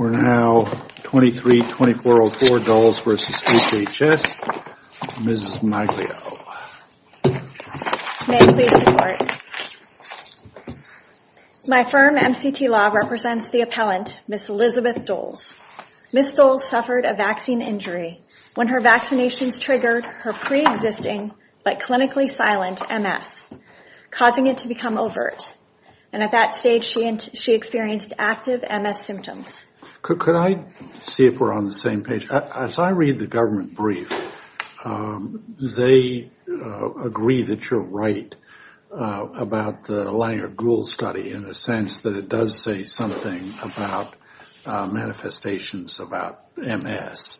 We're now 23-2404, Doles v. HHS, Ms. Maglio. May I please report? My firm, MCT Law, represents the appellant, Ms. Elizabeth Doles. Ms. Doles suffered a vaccine injury when her vaccinations triggered her pre-existing but clinically silent MS, causing it to become overt. At that stage, she experienced active MS symptoms. Could I see if we're on the same page? As I read the government brief, they agree that you're right about the Langer-Gould study in the sense that it does say something about manifestations about MS.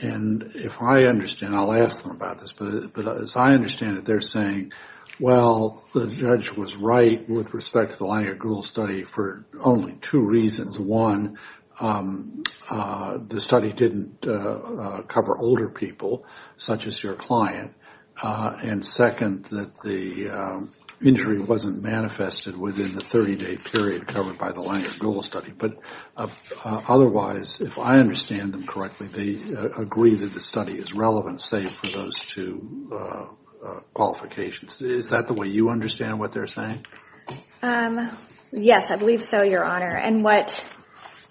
And if I understand, I'll ask them about this. But as I understand it, they're saying, well, the judge was right with respect to the Langer-Gould study for only two reasons. One, the study didn't cover older people such as your client. And second, that the injury wasn't manifested within the 30-day period covered by the Langer-Gould study. But otherwise, if I understand them correctly, they agree that the study is relevant, save for those two qualifications. Is that the way you understand what they're saying? Yes, I believe so, Your Honor. And what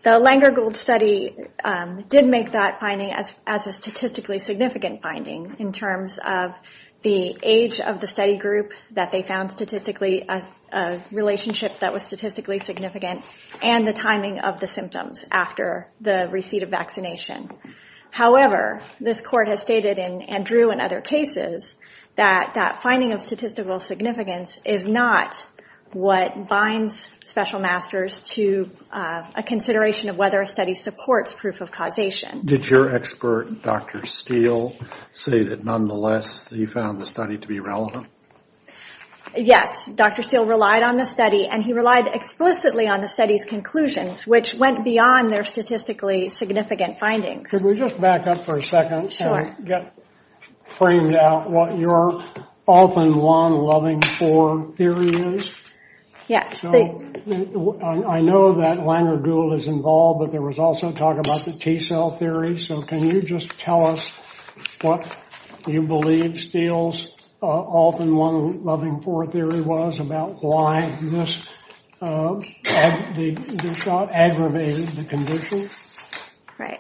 the Langer-Gould study did make that finding as a statistically significant finding in terms of the age of the study group that they found statistically a relationship that was statistically significant and the timing of the symptoms after the receipt of vaccination. However, this court has stated and drew in other cases that that finding of statistical significance is not what binds special masters to a consideration of whether a study supports proof of causation. Did your expert, Dr. Steele, say that nonetheless he found the study to be relevant? Yes, Dr. Steele relied on the study and he relied explicitly on the study's conclusions, which went beyond their statistically significant findings. Could we just back up for a second and get framed out what your often long-loving for theory is? Yes. I know that Langer-Gould is involved, but there was also talk about the T cell theory. So can you just tell us what you believe Steele's often long-loving for theory was about why this shot aggravated the condition?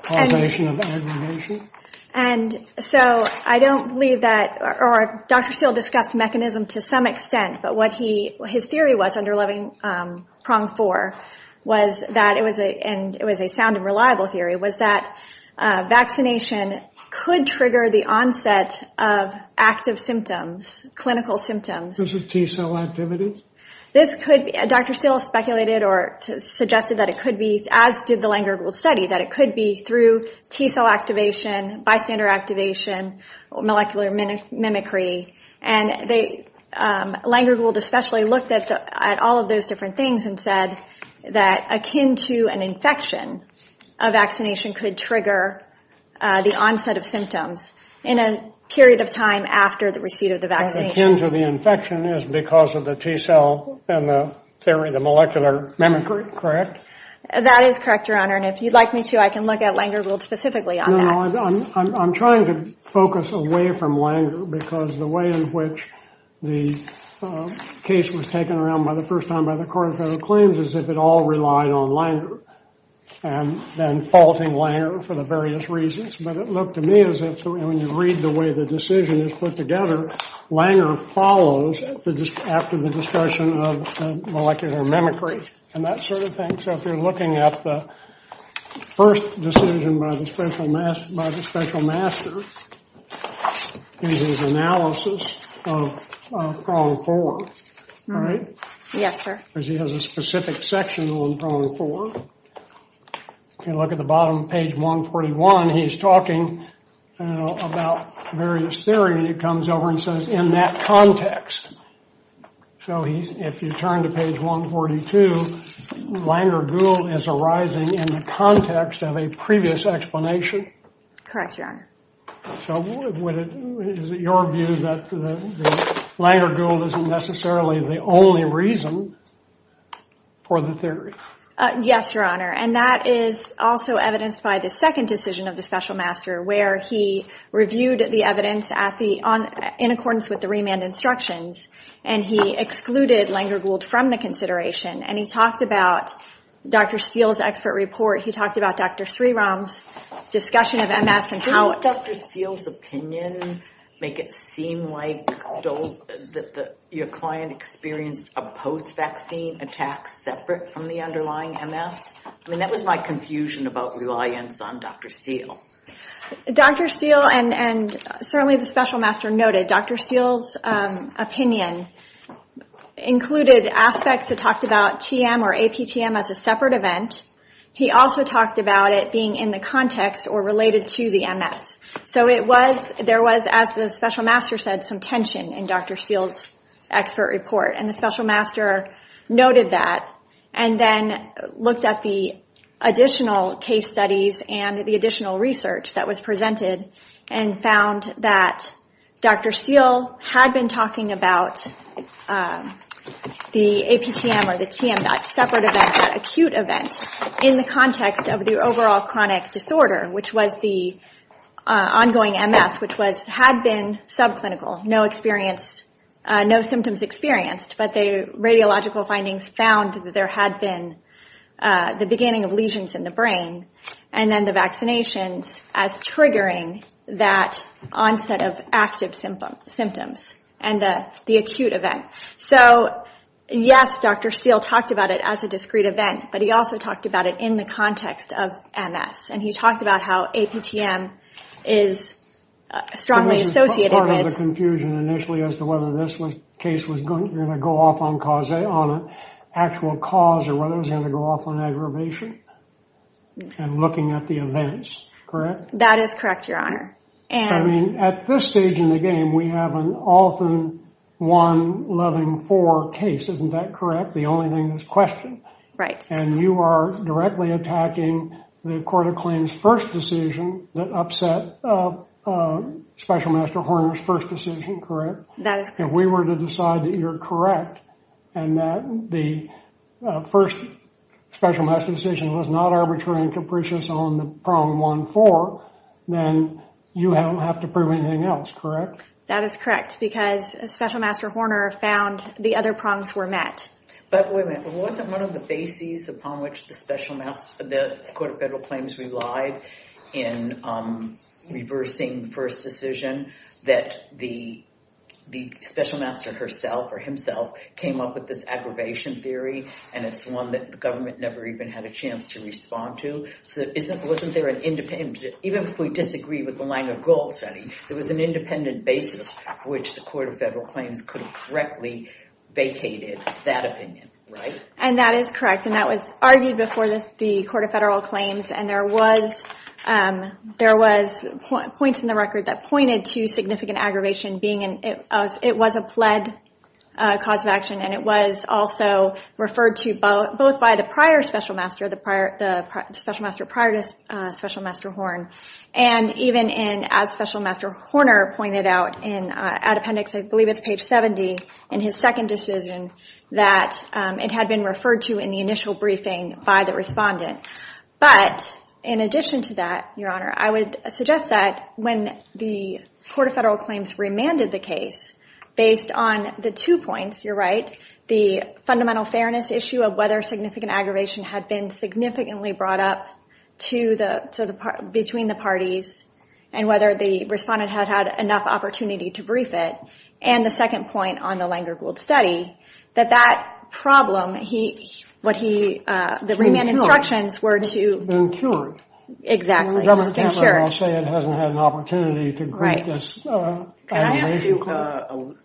Causation of aggravation. And so I don't believe that, or Dr. Steele discussed mechanism to some extent, but what his theory was, under loving prong four, was that it was a sound and reliable theory, was that vaccination could trigger the onset of active symptoms, clinical symptoms. Those were T cell activities? Dr. Steele speculated or suggested that it could be, as did the Langer-Gould study, that it could be through T cell activation, bystander activation, molecular mimicry. And Langer-Gould especially looked at all of those different things and said that akin to an infection, a vaccination could trigger the onset of symptoms in a period of time after the receipt of the vaccination. Akin to the infection is because of the T cell and the theory of the molecular mimicry, correct? That is correct, Your Honor, and if you'd like me to, I can look at Langer-Gould specifically on that. No, no, I'm trying to focus away from Langer because the way in which the case was taken around for the first time by the Court of Federal Claims is if it all relied on Langer, and then faulting Langer for the various reasons. But it looked to me as if when you read the way the decision is put together, Langer follows after the discussion of molecular mimicry and that sort of thing. So if you're looking at the first decision by the special master in his analysis of prong four, right? Yes, sir. Because he has a specific section on prong four. If you look at the bottom of page 141, he's talking about various theories. He comes over and says, in that context. So if you turn to page 142, Langer-Gould is arising in the context of a previous explanation. Correct, Your Honor. So is it your view that Langer-Gould isn't necessarily the only reason for the theory? Yes, Your Honor. And that is also evidenced by the second decision of the special master, where he reviewed the evidence in accordance with the remand instructions, and he excluded Langer-Gould from the consideration. And he talked about Dr. Steele's expert report. He talked about Dr. Sriram's discussion of MS. Didn't Dr. Steele's opinion make it seem like your client experienced a post-vaccine attack separate from the underlying MS? I mean, that was my confusion about reliance on Dr. Steele. Dr. Steele, and certainly the special master noted, Dr. Steele's opinion included aspects that talked about TM or APTM as a separate event. He also talked about it being in the context or related to the MS. So there was, as the special master said, some tension in Dr. Steele's expert report. And the special master noted that and then looked at the additional case studies and the additional research that was presented and found that Dr. Steele had been talking about the AP TM or the TM, that separate event, that acute event, in the context of the overall chronic disorder, which was the ongoing MS, which had been subclinical, no experience, no symptoms experienced, but the radiological findings found that there had been the beginning of lesions in the brain and then the vaccinations as triggering that onset of active symptoms and the acute event. So, yes, Dr. Steele talked about it as a discrete event, but he also talked about it in the context of MS. And he talked about how AP TM is strongly associated with... Part of the confusion initially as to whether this case was going to go off on actual cause or whether it was going to go off on aggravation and looking at the events, correct? That is correct, Your Honor. I mean, at this stage in the game, we have an often one-loving-four case. Isn't that correct? The only thing is question. Right. And you are directly attacking the Court of Claims' first decision that upset Special Master Horner's first decision, correct? That is correct. If we were to decide that you're correct and that the first Special Master's decision was not arbitrary and capricious on the prong one-four, then you don't have to prove anything else, correct? That is correct, because Special Master Horner found the other prongs were met. But wait a minute. Wasn't one of the bases upon which the Court of Federal Claims relied in reversing the first decision that the Special Master herself or himself came up with this aggravation theory and it's one that the government never even had a chance to respond to? So wasn't there an independent... Even if we disagree with the line of goal setting, there was an independent basis which the Court of Federal Claims could have correctly vacated that opinion, right? And that is correct. And that was argued before the Court of Federal Claims, and there was points in the record that pointed to significant aggravation being... It was a pled cause of action, and it was also referred to both by the prior Special Master, the Special Master prior to Special Master Horner, and even as Special Master Horner pointed out in appendix, I believe it's page 70, in his second decision that it had been referred to in the initial briefing by the respondent. But in addition to that, Your Honor, I would suggest that when the Court of Federal Claims remanded the case, based on the two points, you're right, the fundamental fairness issue of whether significant aggravation had been significantly brought up between the parties and whether the respondent had had enough opportunity to brief it, and the second point on the Langer-Gould study, that that problem, what he... The remand instructions were to... Exactly. It's been cured. I'll say it hasn't had an opportunity to... Right. Can I ask you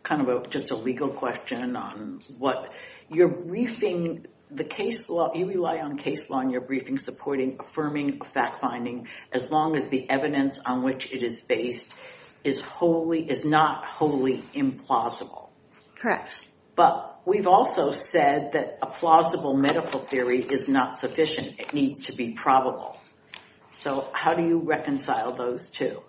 kind of just a legal question on what... Your briefing, the case law... You rely on case law in your briefing supporting affirming a fact-finding as long as the evidence on which it is based is not wholly implausible. Correct. But we've also said that a plausible medical theory is not sufficient. It needs to be probable. So how do you reconcile those two?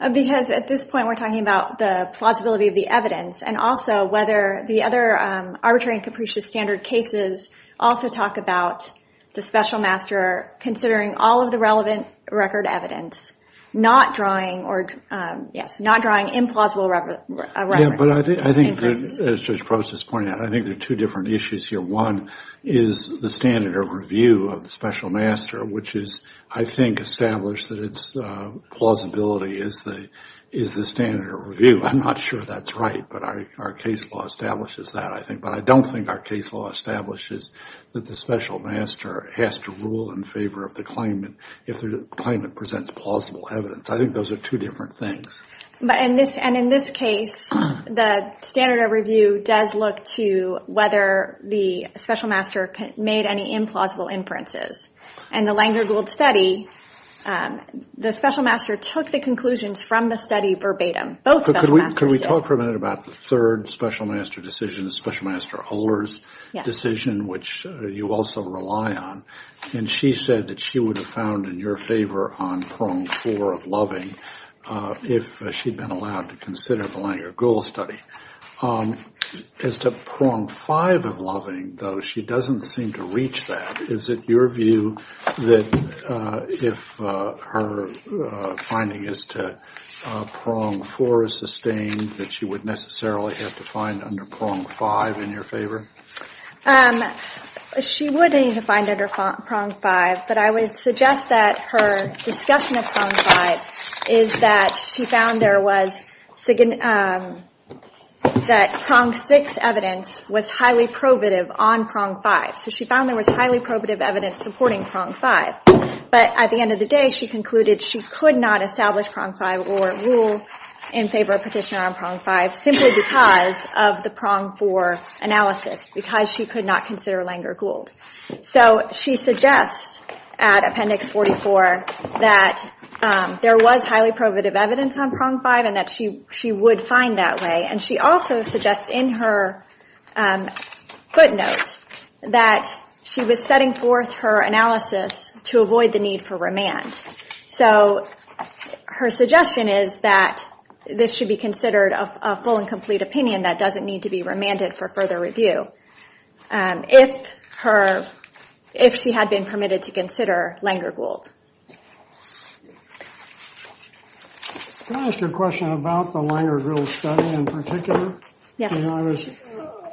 Because at this point, we're talking about the plausibility of the evidence and also whether the other arbitrary and capricious standard cases also talk about the special master considering all of the relevant record evidence, not drawing or... Yes, not drawing implausible... Yeah, but I think, as Judge Probst is pointing out, I think there are two different issues here. One is the standard of review of the special master, which is, I think, established that its plausibility is the standard of review. I'm not sure that's right, but our case law establishes that, I think. But I don't think our case law establishes that the special master has to rule in favor of the claimant if the claimant presents plausible evidence. I think those are two different things. And in this case, the standard of review does look to whether the special master made any implausible inferences. In the Langer-Gould study, the special master took the conclusions from the study verbatim. Both special masters did. Could we talk for a minute about the third special master decision, the special master Holder's decision, which you also rely on? And she said that she would have found in your favor on prong four of loving if she'd been allowed to consider the Langer-Gould study. As to prong five of loving, though, she doesn't seem to reach that. Is it your view that if her finding is to prong four is sustained, that she would necessarily have to find under prong five in your favor? She would need to find under prong five, but I would suggest that her discussion of prong five is that she found there was that prong six evidence was highly probative on prong five. So she found there was highly probative evidence supporting prong five. But at the end of the day, she concluded she could not establish prong five or rule in favor of petitioner on prong five simply because of the prong four analysis, because she could not consider Langer-Gould. So she suggests at Appendix 44 that there was highly probative evidence on prong five and that she would find that way. And she also suggests in her footnote that she was setting forth her analysis to avoid the need for remand. So her suggestion is that this should be considered a full and complete opinion that doesn't need to be remanded for further review if she had been permitted to consider Langer-Gould. Can I ask you a question about the Langer-Gould study in particular? Yes.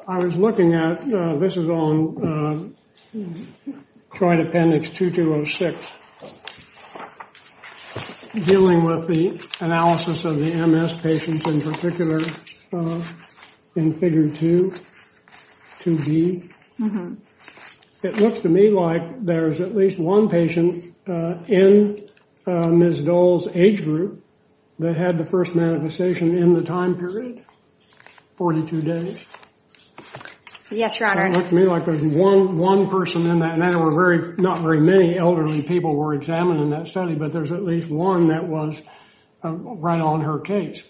I was looking at, this is on Triad Appendix 2206, dealing with the analysis of the MS patients in particular in Figure 2, 2B. It looks to me like there's at least one patient in Ms. Dole's age group that had the first manifestation in the time period, 42 days. Yes, Your Honor. It looks to me like there's one person in that, and not very many elderly people were examined in that study, but there's at least one that was right on her case.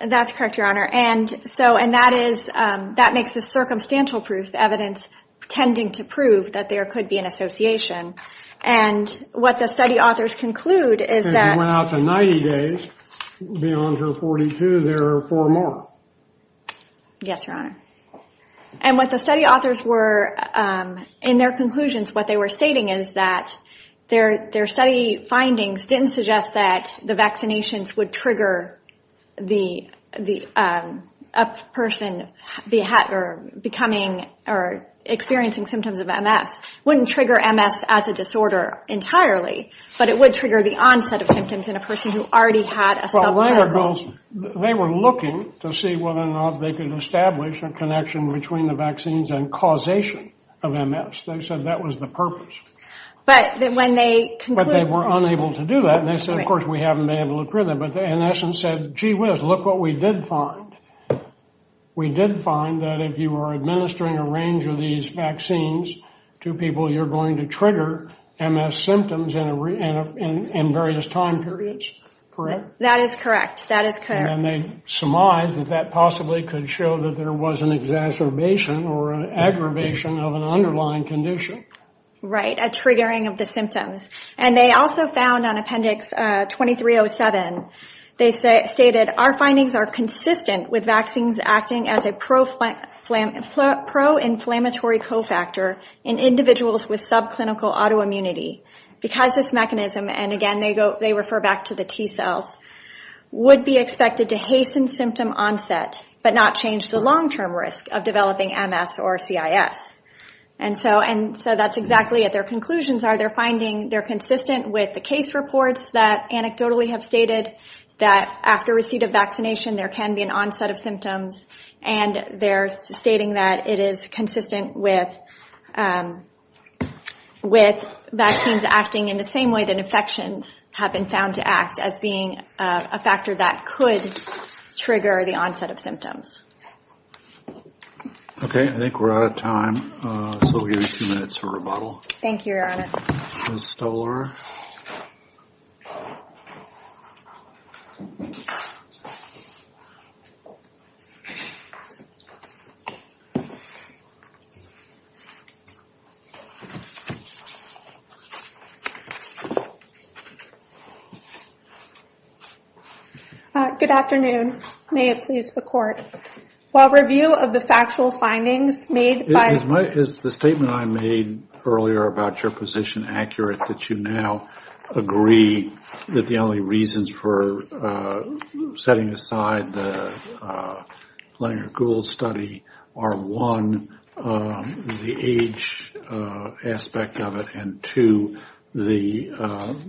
That's correct, Your Honor. And that makes this circumstantial proof evidence tending to prove that there could be an association. And what the study authors conclude is that- And it went out to 90 days. Beyond her 42, there are four more. Yes, Your Honor. And what the study authors were, in their conclusions, what they were stating is that their study findings didn't suggest that the vaccinations would trigger a person becoming or experiencing symptoms of MS. It wouldn't trigger MS as a disorder entirely, but it would trigger the onset of symptoms in a person who already had a self-care group. They were looking to see whether or not they could establish a connection between the vaccines and causation of MS. They said that was the purpose. But when they concluded- And, of course, we haven't been able to prove that, but in essence said, gee whiz, look what we did find. We did find that if you were administering a range of these vaccines to people, you're going to trigger MS symptoms in various time periods. Correct? That is correct. And they surmised that that possibly could show that there was an exacerbation or an aggravation of an underlying condition. Right, a triggering of the symptoms. And they also found on Appendix 2307, they stated, our findings are consistent with vaccines acting as a pro-inflammatory cofactor in individuals with subclinical autoimmunity because this mechanism- and, again, they refer back to the T cells- would be expected to hasten symptom onset but not change the long-term risk of developing MS or CIS. And so that's exactly what their conclusions are. They're finding they're consistent with the case reports that anecdotally have stated that after receipt of vaccination, there can be an onset of symptoms. And they're stating that it is consistent with vaccines acting in the same way that infections have been found to act as being a factor that could trigger the onset of symptoms. Okay, I think we're out of time. So we'll give you two minutes for rebuttal. Thank you, Your Honor. Ms. Stuller. Good afternoon. May it please the Court. While review of the factual findings made by- Is the statement I made earlier about your position accurate, that you now agree that the only reasons for setting aside the Langer-Gould study are one, the age aspect of it, and two, the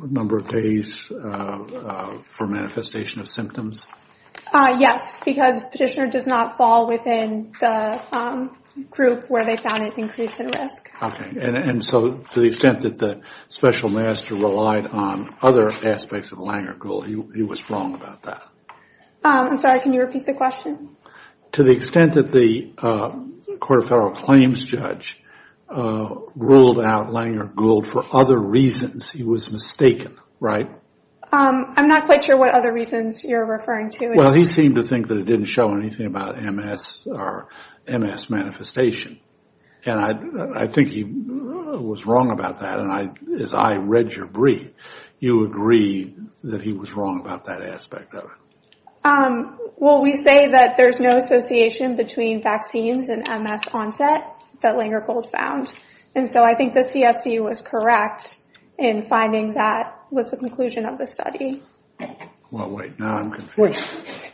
number of days for manifestation of symptoms? Yes, because Petitioner does not fall within the groups where they found it increased in risk. Okay, and so to the extent that the special master relied on other aspects of Langer-Gould, he was wrong about that? I'm sorry, can you repeat the question? To the extent that the Court of Federal Claims judge ruled out Langer-Gould for other reasons, he was mistaken, right? I'm not quite sure what other reasons you're referring to. Well, he seemed to think that it didn't show anything about MS or MS manifestation, and I think he was wrong about that, and as I read your brief, you agree that he was wrong about that aspect of it. Well, we say that there's no association between vaccines and MS onset that Langer-Gould found, and so I think the CFC was correct in finding that was the conclusion of the study. Well, wait, now I'm confused,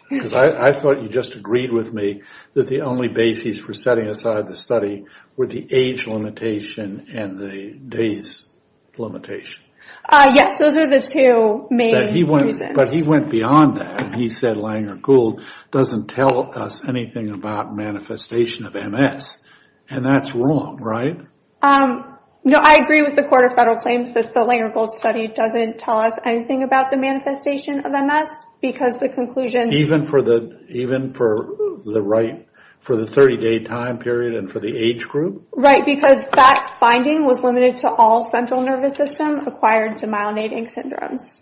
because I thought you just agreed with me that the only basis for setting aside the study were the age limitation and the days limitation. Yes, those are the two main reasons. But he went beyond that, and he said Langer-Gould doesn't tell us anything about manifestation of MS, and that's wrong, right? No, I agree with the Court of Federal Claims that the Langer-Gould study doesn't tell us anything about the manifestation of MS, because the conclusion— Even for the 30-day time period and for the age group? Right, because that finding was limited to all central nervous system acquired to myelinating syndromes.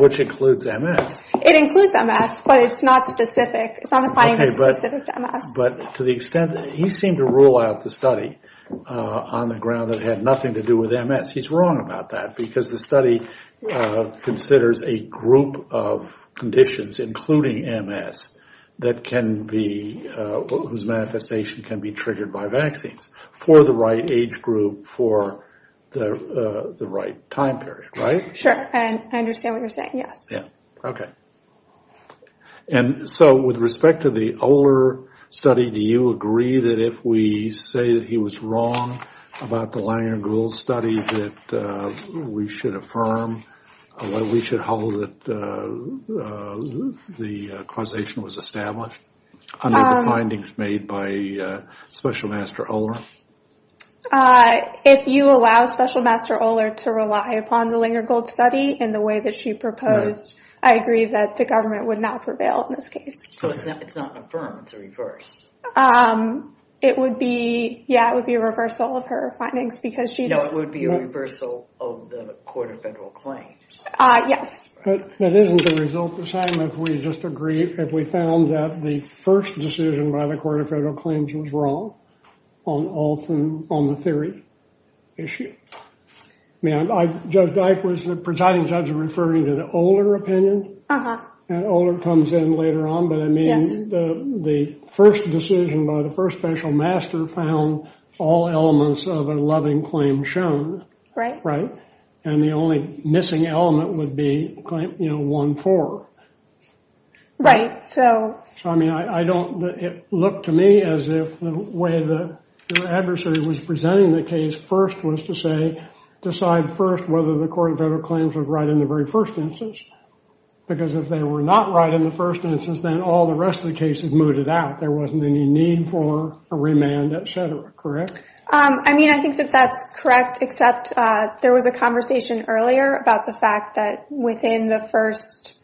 Which includes MS. It includes MS, but it's not specific. It's not a finding that's specific to MS. But to the extent that he seemed to rule out the study on the ground that it had nothing to do with MS, he's wrong about that, because the study considers a group of conditions, including MS, whose manifestation can be triggered by vaccines for the right age group for the right time period, right? Sure, and I understand what you're saying, yes. Yeah, okay. And so with respect to the Oehler study, do you agree that if we say that he was wrong about the Langer-Gould study, that we should affirm or we should hold that the causation was established under the findings made by Special Master Oehler? If you allow Special Master Oehler to rely upon the Langer-Gould study in the way that she proposed, I agree that the government would not prevail in this case. So it's not an affirm, it's a reverse. It would be, yeah, it would be a reversal of her findings, because she— No, it would be a reversal of the Court of Federal Claims. Yes. But isn't the result the same if we just agree, if we found that the first decision by the Court of Federal Claims was wrong on the theory issue? I mean, Judge Dike was the presiding judge referring to the Oehler opinion, and Oehler comes in later on, but I mean, the first decision by the first Special Master found all elements of a loving claim shown, right? And the only missing element would be, you know, 1-4. Right, so— I mean, I don't—it looked to me as if the way the adversary was presenting the case first was to say, decide first whether the Court of Federal Claims was right in the very first instance, because if they were not right in the first instance, then all the rest of the case is mooted out. There wasn't any need for a remand, et cetera, correct? I mean, I think that that's correct, except there was a conversation earlier about the fact that within the first—for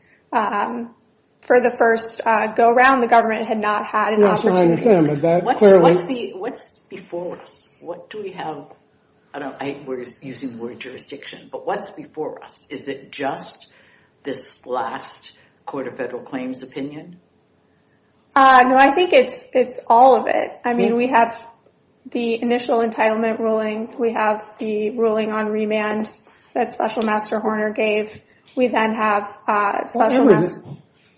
the first go-around, the government had not had an opportunity. What's before us? What do we have? I don't—we're using the word jurisdiction, but what's before us? Is it just this last Court of Federal Claims opinion? No, I think it's all of it. I mean, we have the initial entitlement ruling. We have the ruling on remand that Special Master Horner gave. We then have Special Master—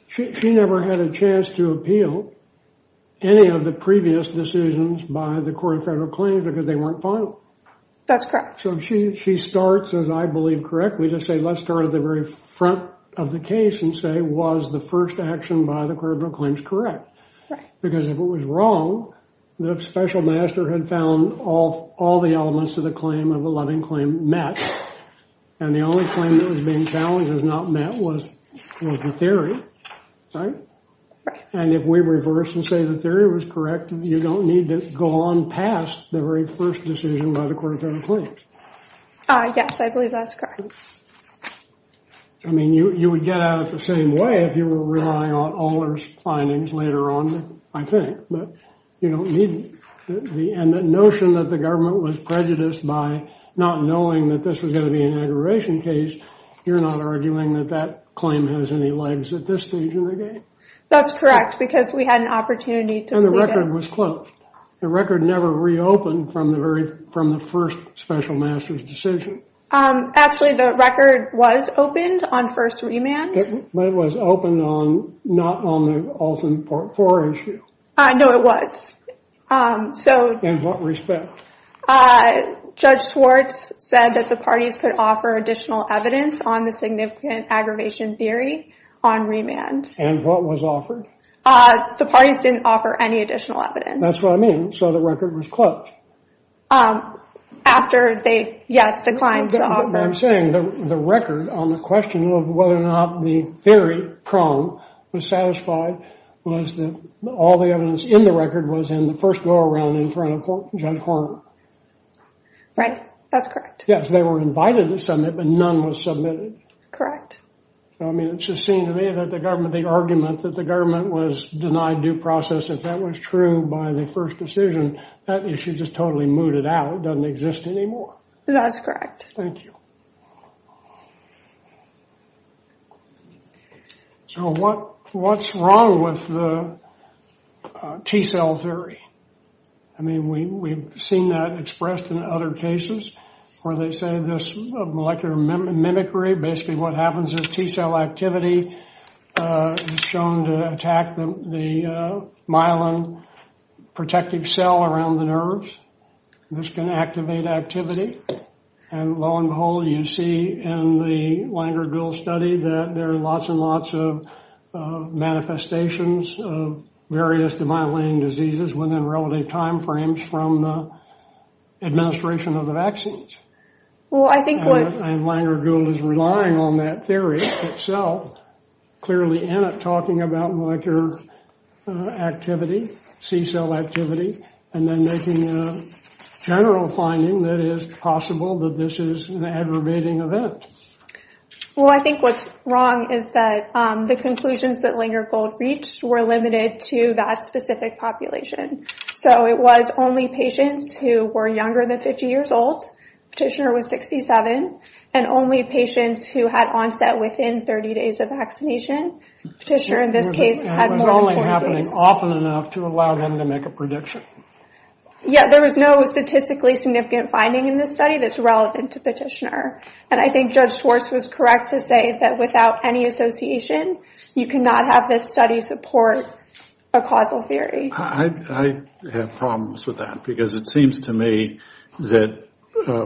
She never had a chance to appeal any of the previous decisions by the Court of Federal Claims because they weren't final. That's correct. So she starts, as I believe, correctly to say, let's start at the very front of the case and say, was the first action by the Court of Federal Claims correct? Right. Because if it was wrong, the Special Master had found all the elements of the claim of a loving claim met, and the only claim that was being challenged as not met was the theory, right? Right. And if we reverse and say the theory was correct, you don't need to go on past the very first decision by the Court of Federal Claims. Yes, I believe that's correct. I mean, you would get out the same way if you were relying on Aller's findings later on, I think. But you don't need—and the notion that the government was prejudiced by not knowing that this was going to be an aggravation case, you're not arguing that that claim has any legs at this stage in the game? That's correct, because we had an opportunity to— And the record was closed. The record never reopened from the first Special Master's decision. Actually, the record was opened on first remand. But it was opened not on the Olson Part IV issue. No, it was. In what respect? Judge Schwartz said that the parties could offer additional evidence on the significant aggravation theory on remand. And what was offered? The parties didn't offer any additional evidence. That's what I mean. So the record was closed. After they, yes, declined to offer— What I'm saying, the record on the question of whether or not the theory prong was satisfied was that all the evidence in the record was in the first go-around in front of Judge Horn. Right, that's correct. Yes, they were invited to submit, but none was submitted. Correct. I mean, it just seemed to me that the government—the argument that the government was denied due process, if that was true by the first decision, that issue is just totally mooted out. It doesn't exist anymore. That's correct. Thank you. So what's wrong with the T cell theory? I mean, we've seen that expressed in other cases where they say this molecular mimicry, basically what happens is T cell activity is shown to attack the myelin protective cell around the nerves. This can activate activity. And lo and behold, you see in the Langer-Gould study that there are lots and lots of manifestations of various demyelinating diseases within relative time frames from the administration of the vaccines. Well, I think what— And Langer-Gould is relying on that theory itself, clearly in it, talking about molecular activity, C cell activity, and then making a general finding that it is possible that this is an aggravating event. Well, I think what's wrong is that the conclusions that Langer-Gould reached were limited to that specific population. So it was only patients who were younger than 50 years old. Petitioner was 67. And only patients who had onset within 30 days of vaccination. Petitioner, in this case, had more than 40 days. And it was only happening often enough to allow him to make a prediction. Yeah, there was no statistically significant finding in this study that's relevant to Petitioner. And I think Judge Schwartz was correct to say that without any association, you cannot have this study support a causal theory. I have problems with that because it seems to me that,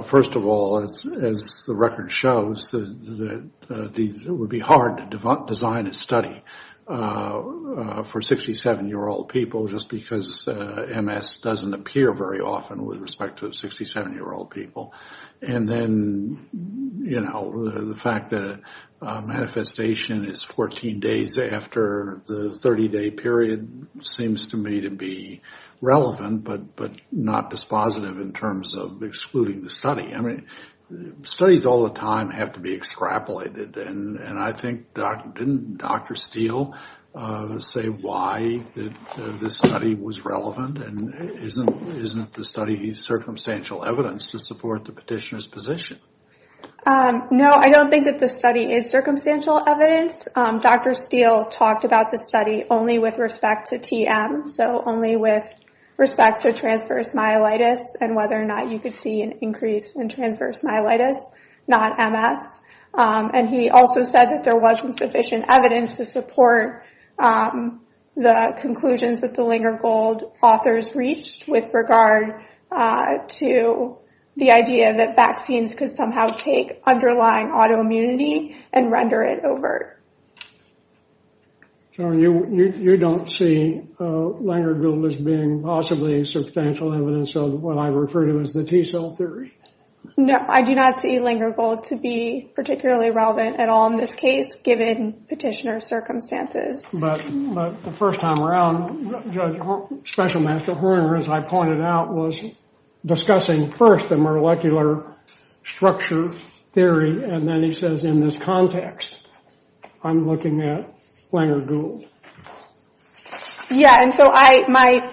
first of all, as the record shows, that it would be hard to design a study for 67-year-old people just because MS doesn't appear very often with respect to 67-year-old people. And then, you know, the fact that manifestation is 14 days after the 30-day period seems to me to be relevant, but not dispositive in terms of excluding the study. I mean, studies all the time have to be extrapolated. And I think, didn't Dr. Steele say why this study was relevant? And isn't the study circumstantial evidence to support the petitioner's position? No, I don't think that the study is circumstantial evidence. Dr. Steele talked about the study only with respect to TM, so only with respect to transverse myelitis and whether or not you could see an increase in transverse myelitis, not MS. And he also said that there wasn't sufficient evidence to support the conclusions that the Lingergold authors reached with regard to the idea that vaccines could somehow take underlying autoimmunity and render it overt. So you don't see Lingergold as being possibly substantial evidence of what I refer to as the T cell theory? No, I do not see Lingergold to be particularly relevant at all in this case, given petitioner circumstances. But the first time around, Judge, Special Master Horner, as I pointed out, was discussing first the molecular structure theory. And then he says, in this context, I'm looking at Lingergold. Yeah, and so I might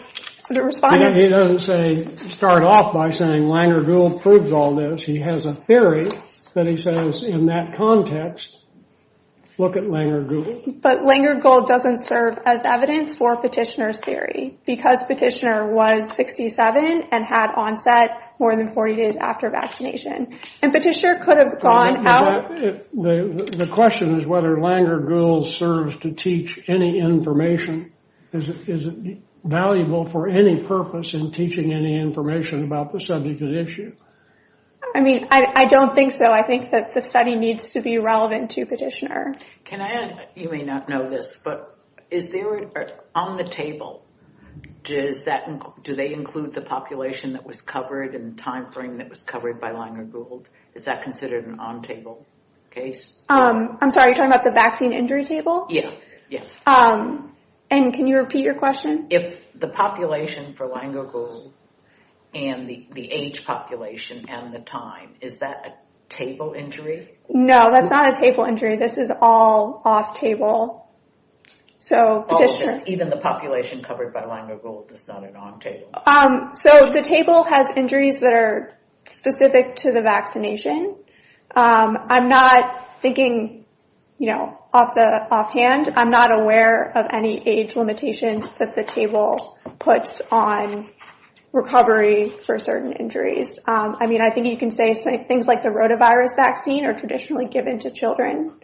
respond. He doesn't say start off by saying Lingergold proves all this. He has a theory that he says in that context, look at Lingergold. But Lingergold doesn't serve as evidence for petitioner's theory, because petitioner was 67 and had onset more than 40 days after vaccination. And petitioner could have gone out. The question is whether Lingergold serves to teach any information. Is it valuable for any purpose in teaching any information about the subject of the issue? I mean, I don't think so. I think that the study needs to be relevant to petitioner. Can I add, you may not know this, but is there on the table, do they include the population that was covered and the time frame that was covered by Lingergold? Is that considered an on-table case? I'm sorry, are you talking about the vaccine injury table? Yes. And can you repeat your question? If the population for Lingergold and the age population and the time, is that a table injury? No, that's not a table injury. This is all off-table. Even the population covered by Lingergold is not an on-table. So the table has injuries that are specific to the vaccination. I'm not thinking, you know, offhand. I'm not aware of any age limitations that the table puts on recovery for certain injuries. I mean, I think you can say things like the rotavirus vaccine are traditionally given to children.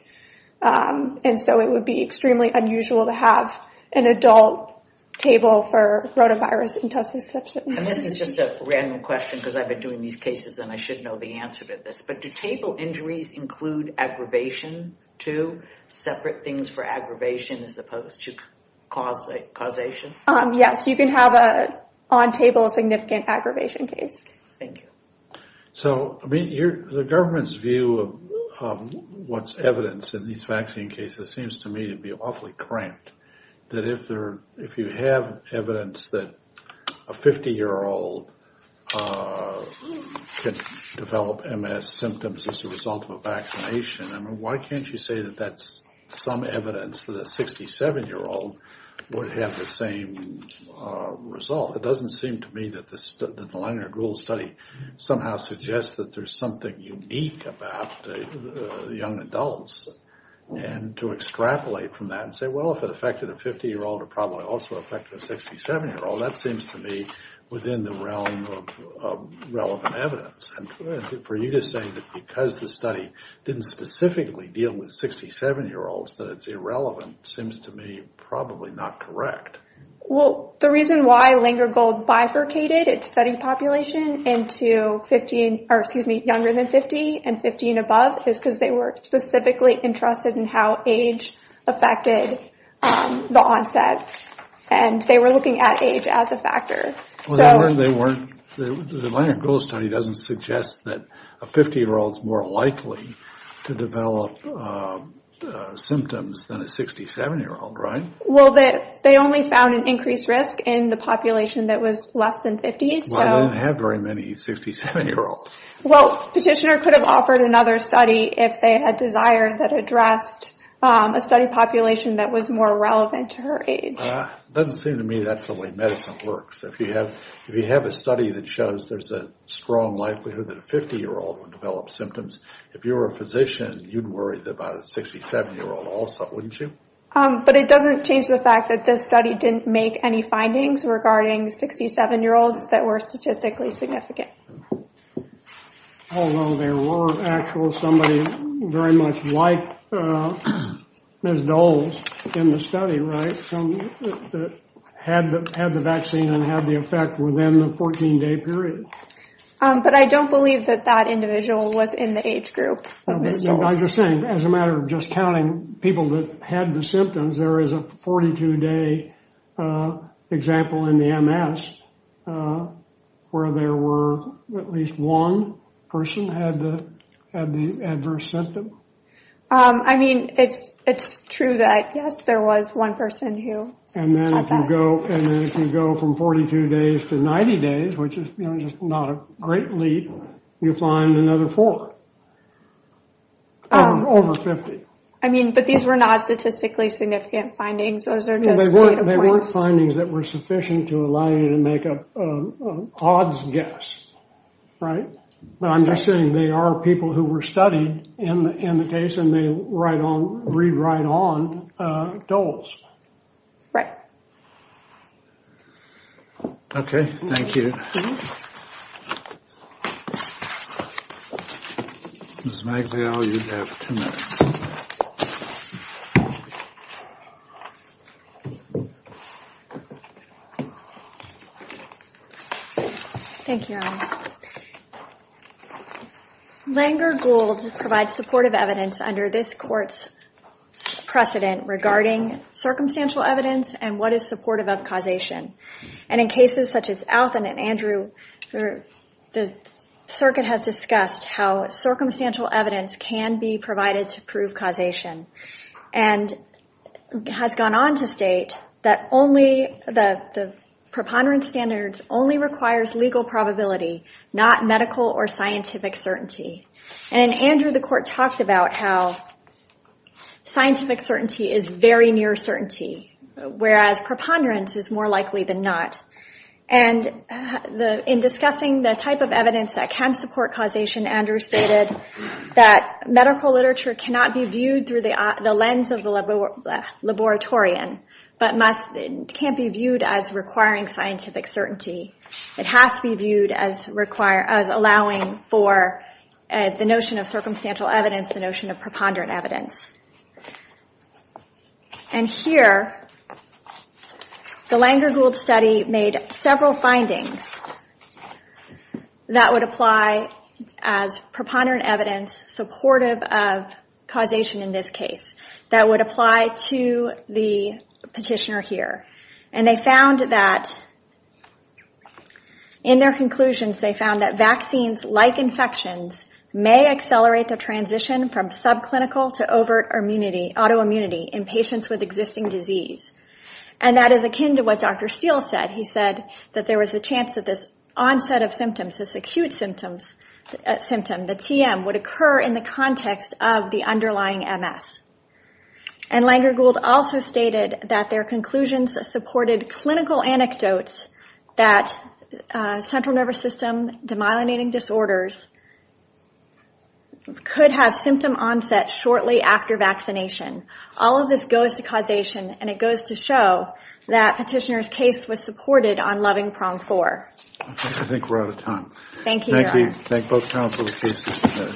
And so it would be extremely unusual to have an adult table for rotavirus intussusception. And this is just a random question because I've been doing these cases and I should know the answer to this. But do table injuries include aggravation too? Separate things for aggravation as opposed to causation? Yes, you can have an on-table significant aggravation case. Thank you. So the government's view of what's evidence in these vaccine cases seems to me to be awfully cramped. That if you have evidence that a 50-year-old can develop MS symptoms as a result of a vaccination, I mean, why can't you say that that's some evidence that a 67-year-old would have the same result? It doesn't seem to me that the Lingergold study somehow suggests that there's something unique about young adults. And to extrapolate from that and say, well, if it affected a 50-year-old, it probably also affected a 67-year-old, that seems to me within the realm of relevant evidence. And for you to say that because the study didn't specifically deal with 67-year-olds, that it's irrelevant, seems to me probably not correct. Well, the reason why Lingergold bifurcated its study population into younger than 50 and 50 and above is because they were specifically interested in how age affected the onset. And they were looking at age as a factor. The Lingergold study doesn't suggest that a 50-year-old is more likely to develop symptoms than a 67-year-old, right? Well, they only found an increased risk in the population that was less than 50. Well, they didn't have very many 67-year-olds. Well, Petitioner could have offered another study if they had desire that addressed a study population that was more relevant to her age. Doesn't seem to me that's the way medicine works. If you have a study that shows there's a strong likelihood that a 50-year-old would develop symptoms, if you were a physician, you'd worry about a 67-year-old also, wouldn't you? But it doesn't change the fact that this study didn't make any findings regarding 67-year-olds that were statistically significant. Although there were actual somebody very much like Ms. Doles in the study, right? Had the vaccine and had the effect within the 14-day period. But I don't believe that that individual was in the age group of Ms. Doles. I'm just saying, as a matter of just counting people that had the symptoms, there is a 42-day example in the MS where there were at least one person had the adverse symptom. I mean, it's true that, yes, there was one person who had that. And then if you go from 42 days to 90 days, which is just not a great leap, you find another four. Over 50. I mean, but these were not statistically significant findings. Those are just data points. They weren't findings that were sufficient to allow you to make an odds guess, right? But I'm just saying they are people who were studied in the case and they read right on Doles. Right. Okay. Thank you. Ms. Magliel, you have two minutes. Thank you. Langer-Gould provides supportive evidence under this court's precedent regarding circumstantial evidence and what is supportive of causation. And in cases such as Alton and Andrew, the circuit has discussed how circumstantial evidence can be provided to prove causation. And has gone on to state that the preponderance standards only requires legal probability, not medical or scientific certainty. And in Andrew, the court talked about how scientific certainty is very near certainty, whereas preponderance is more likely than not. And in discussing the type of evidence that can support causation, Andrew stated that medical literature cannot be viewed through the lens of the laboratorian, but can't be viewed as requiring scientific certainty. It has to be viewed as allowing for the notion of circumstantial evidence, the notion of preponderant evidence. And here, the Langer-Gould study made several findings that would apply as preponderant evidence supportive of causation in this case, that would apply to the petitioner here. And they found that, in their conclusions, they found that vaccines like infections may accelerate the transition from subclinical to overt autoimmunity in patients with existing disease. And that is akin to what Dr. Steele said. He said that there was a chance that this onset of symptoms, this acute symptom, the TM, would occur in the context of the underlying MS. And Langer-Gould also stated that their conclusions supported clinical anecdotes that central nervous system, demyelinating disorders, could have symptom onset shortly after vaccination. All of this goes to causation, and it goes to show that petitioner's case was supported on loving prong four. I think we're out of time. Thank you, Your Honor. Thank you. Thank both counsel.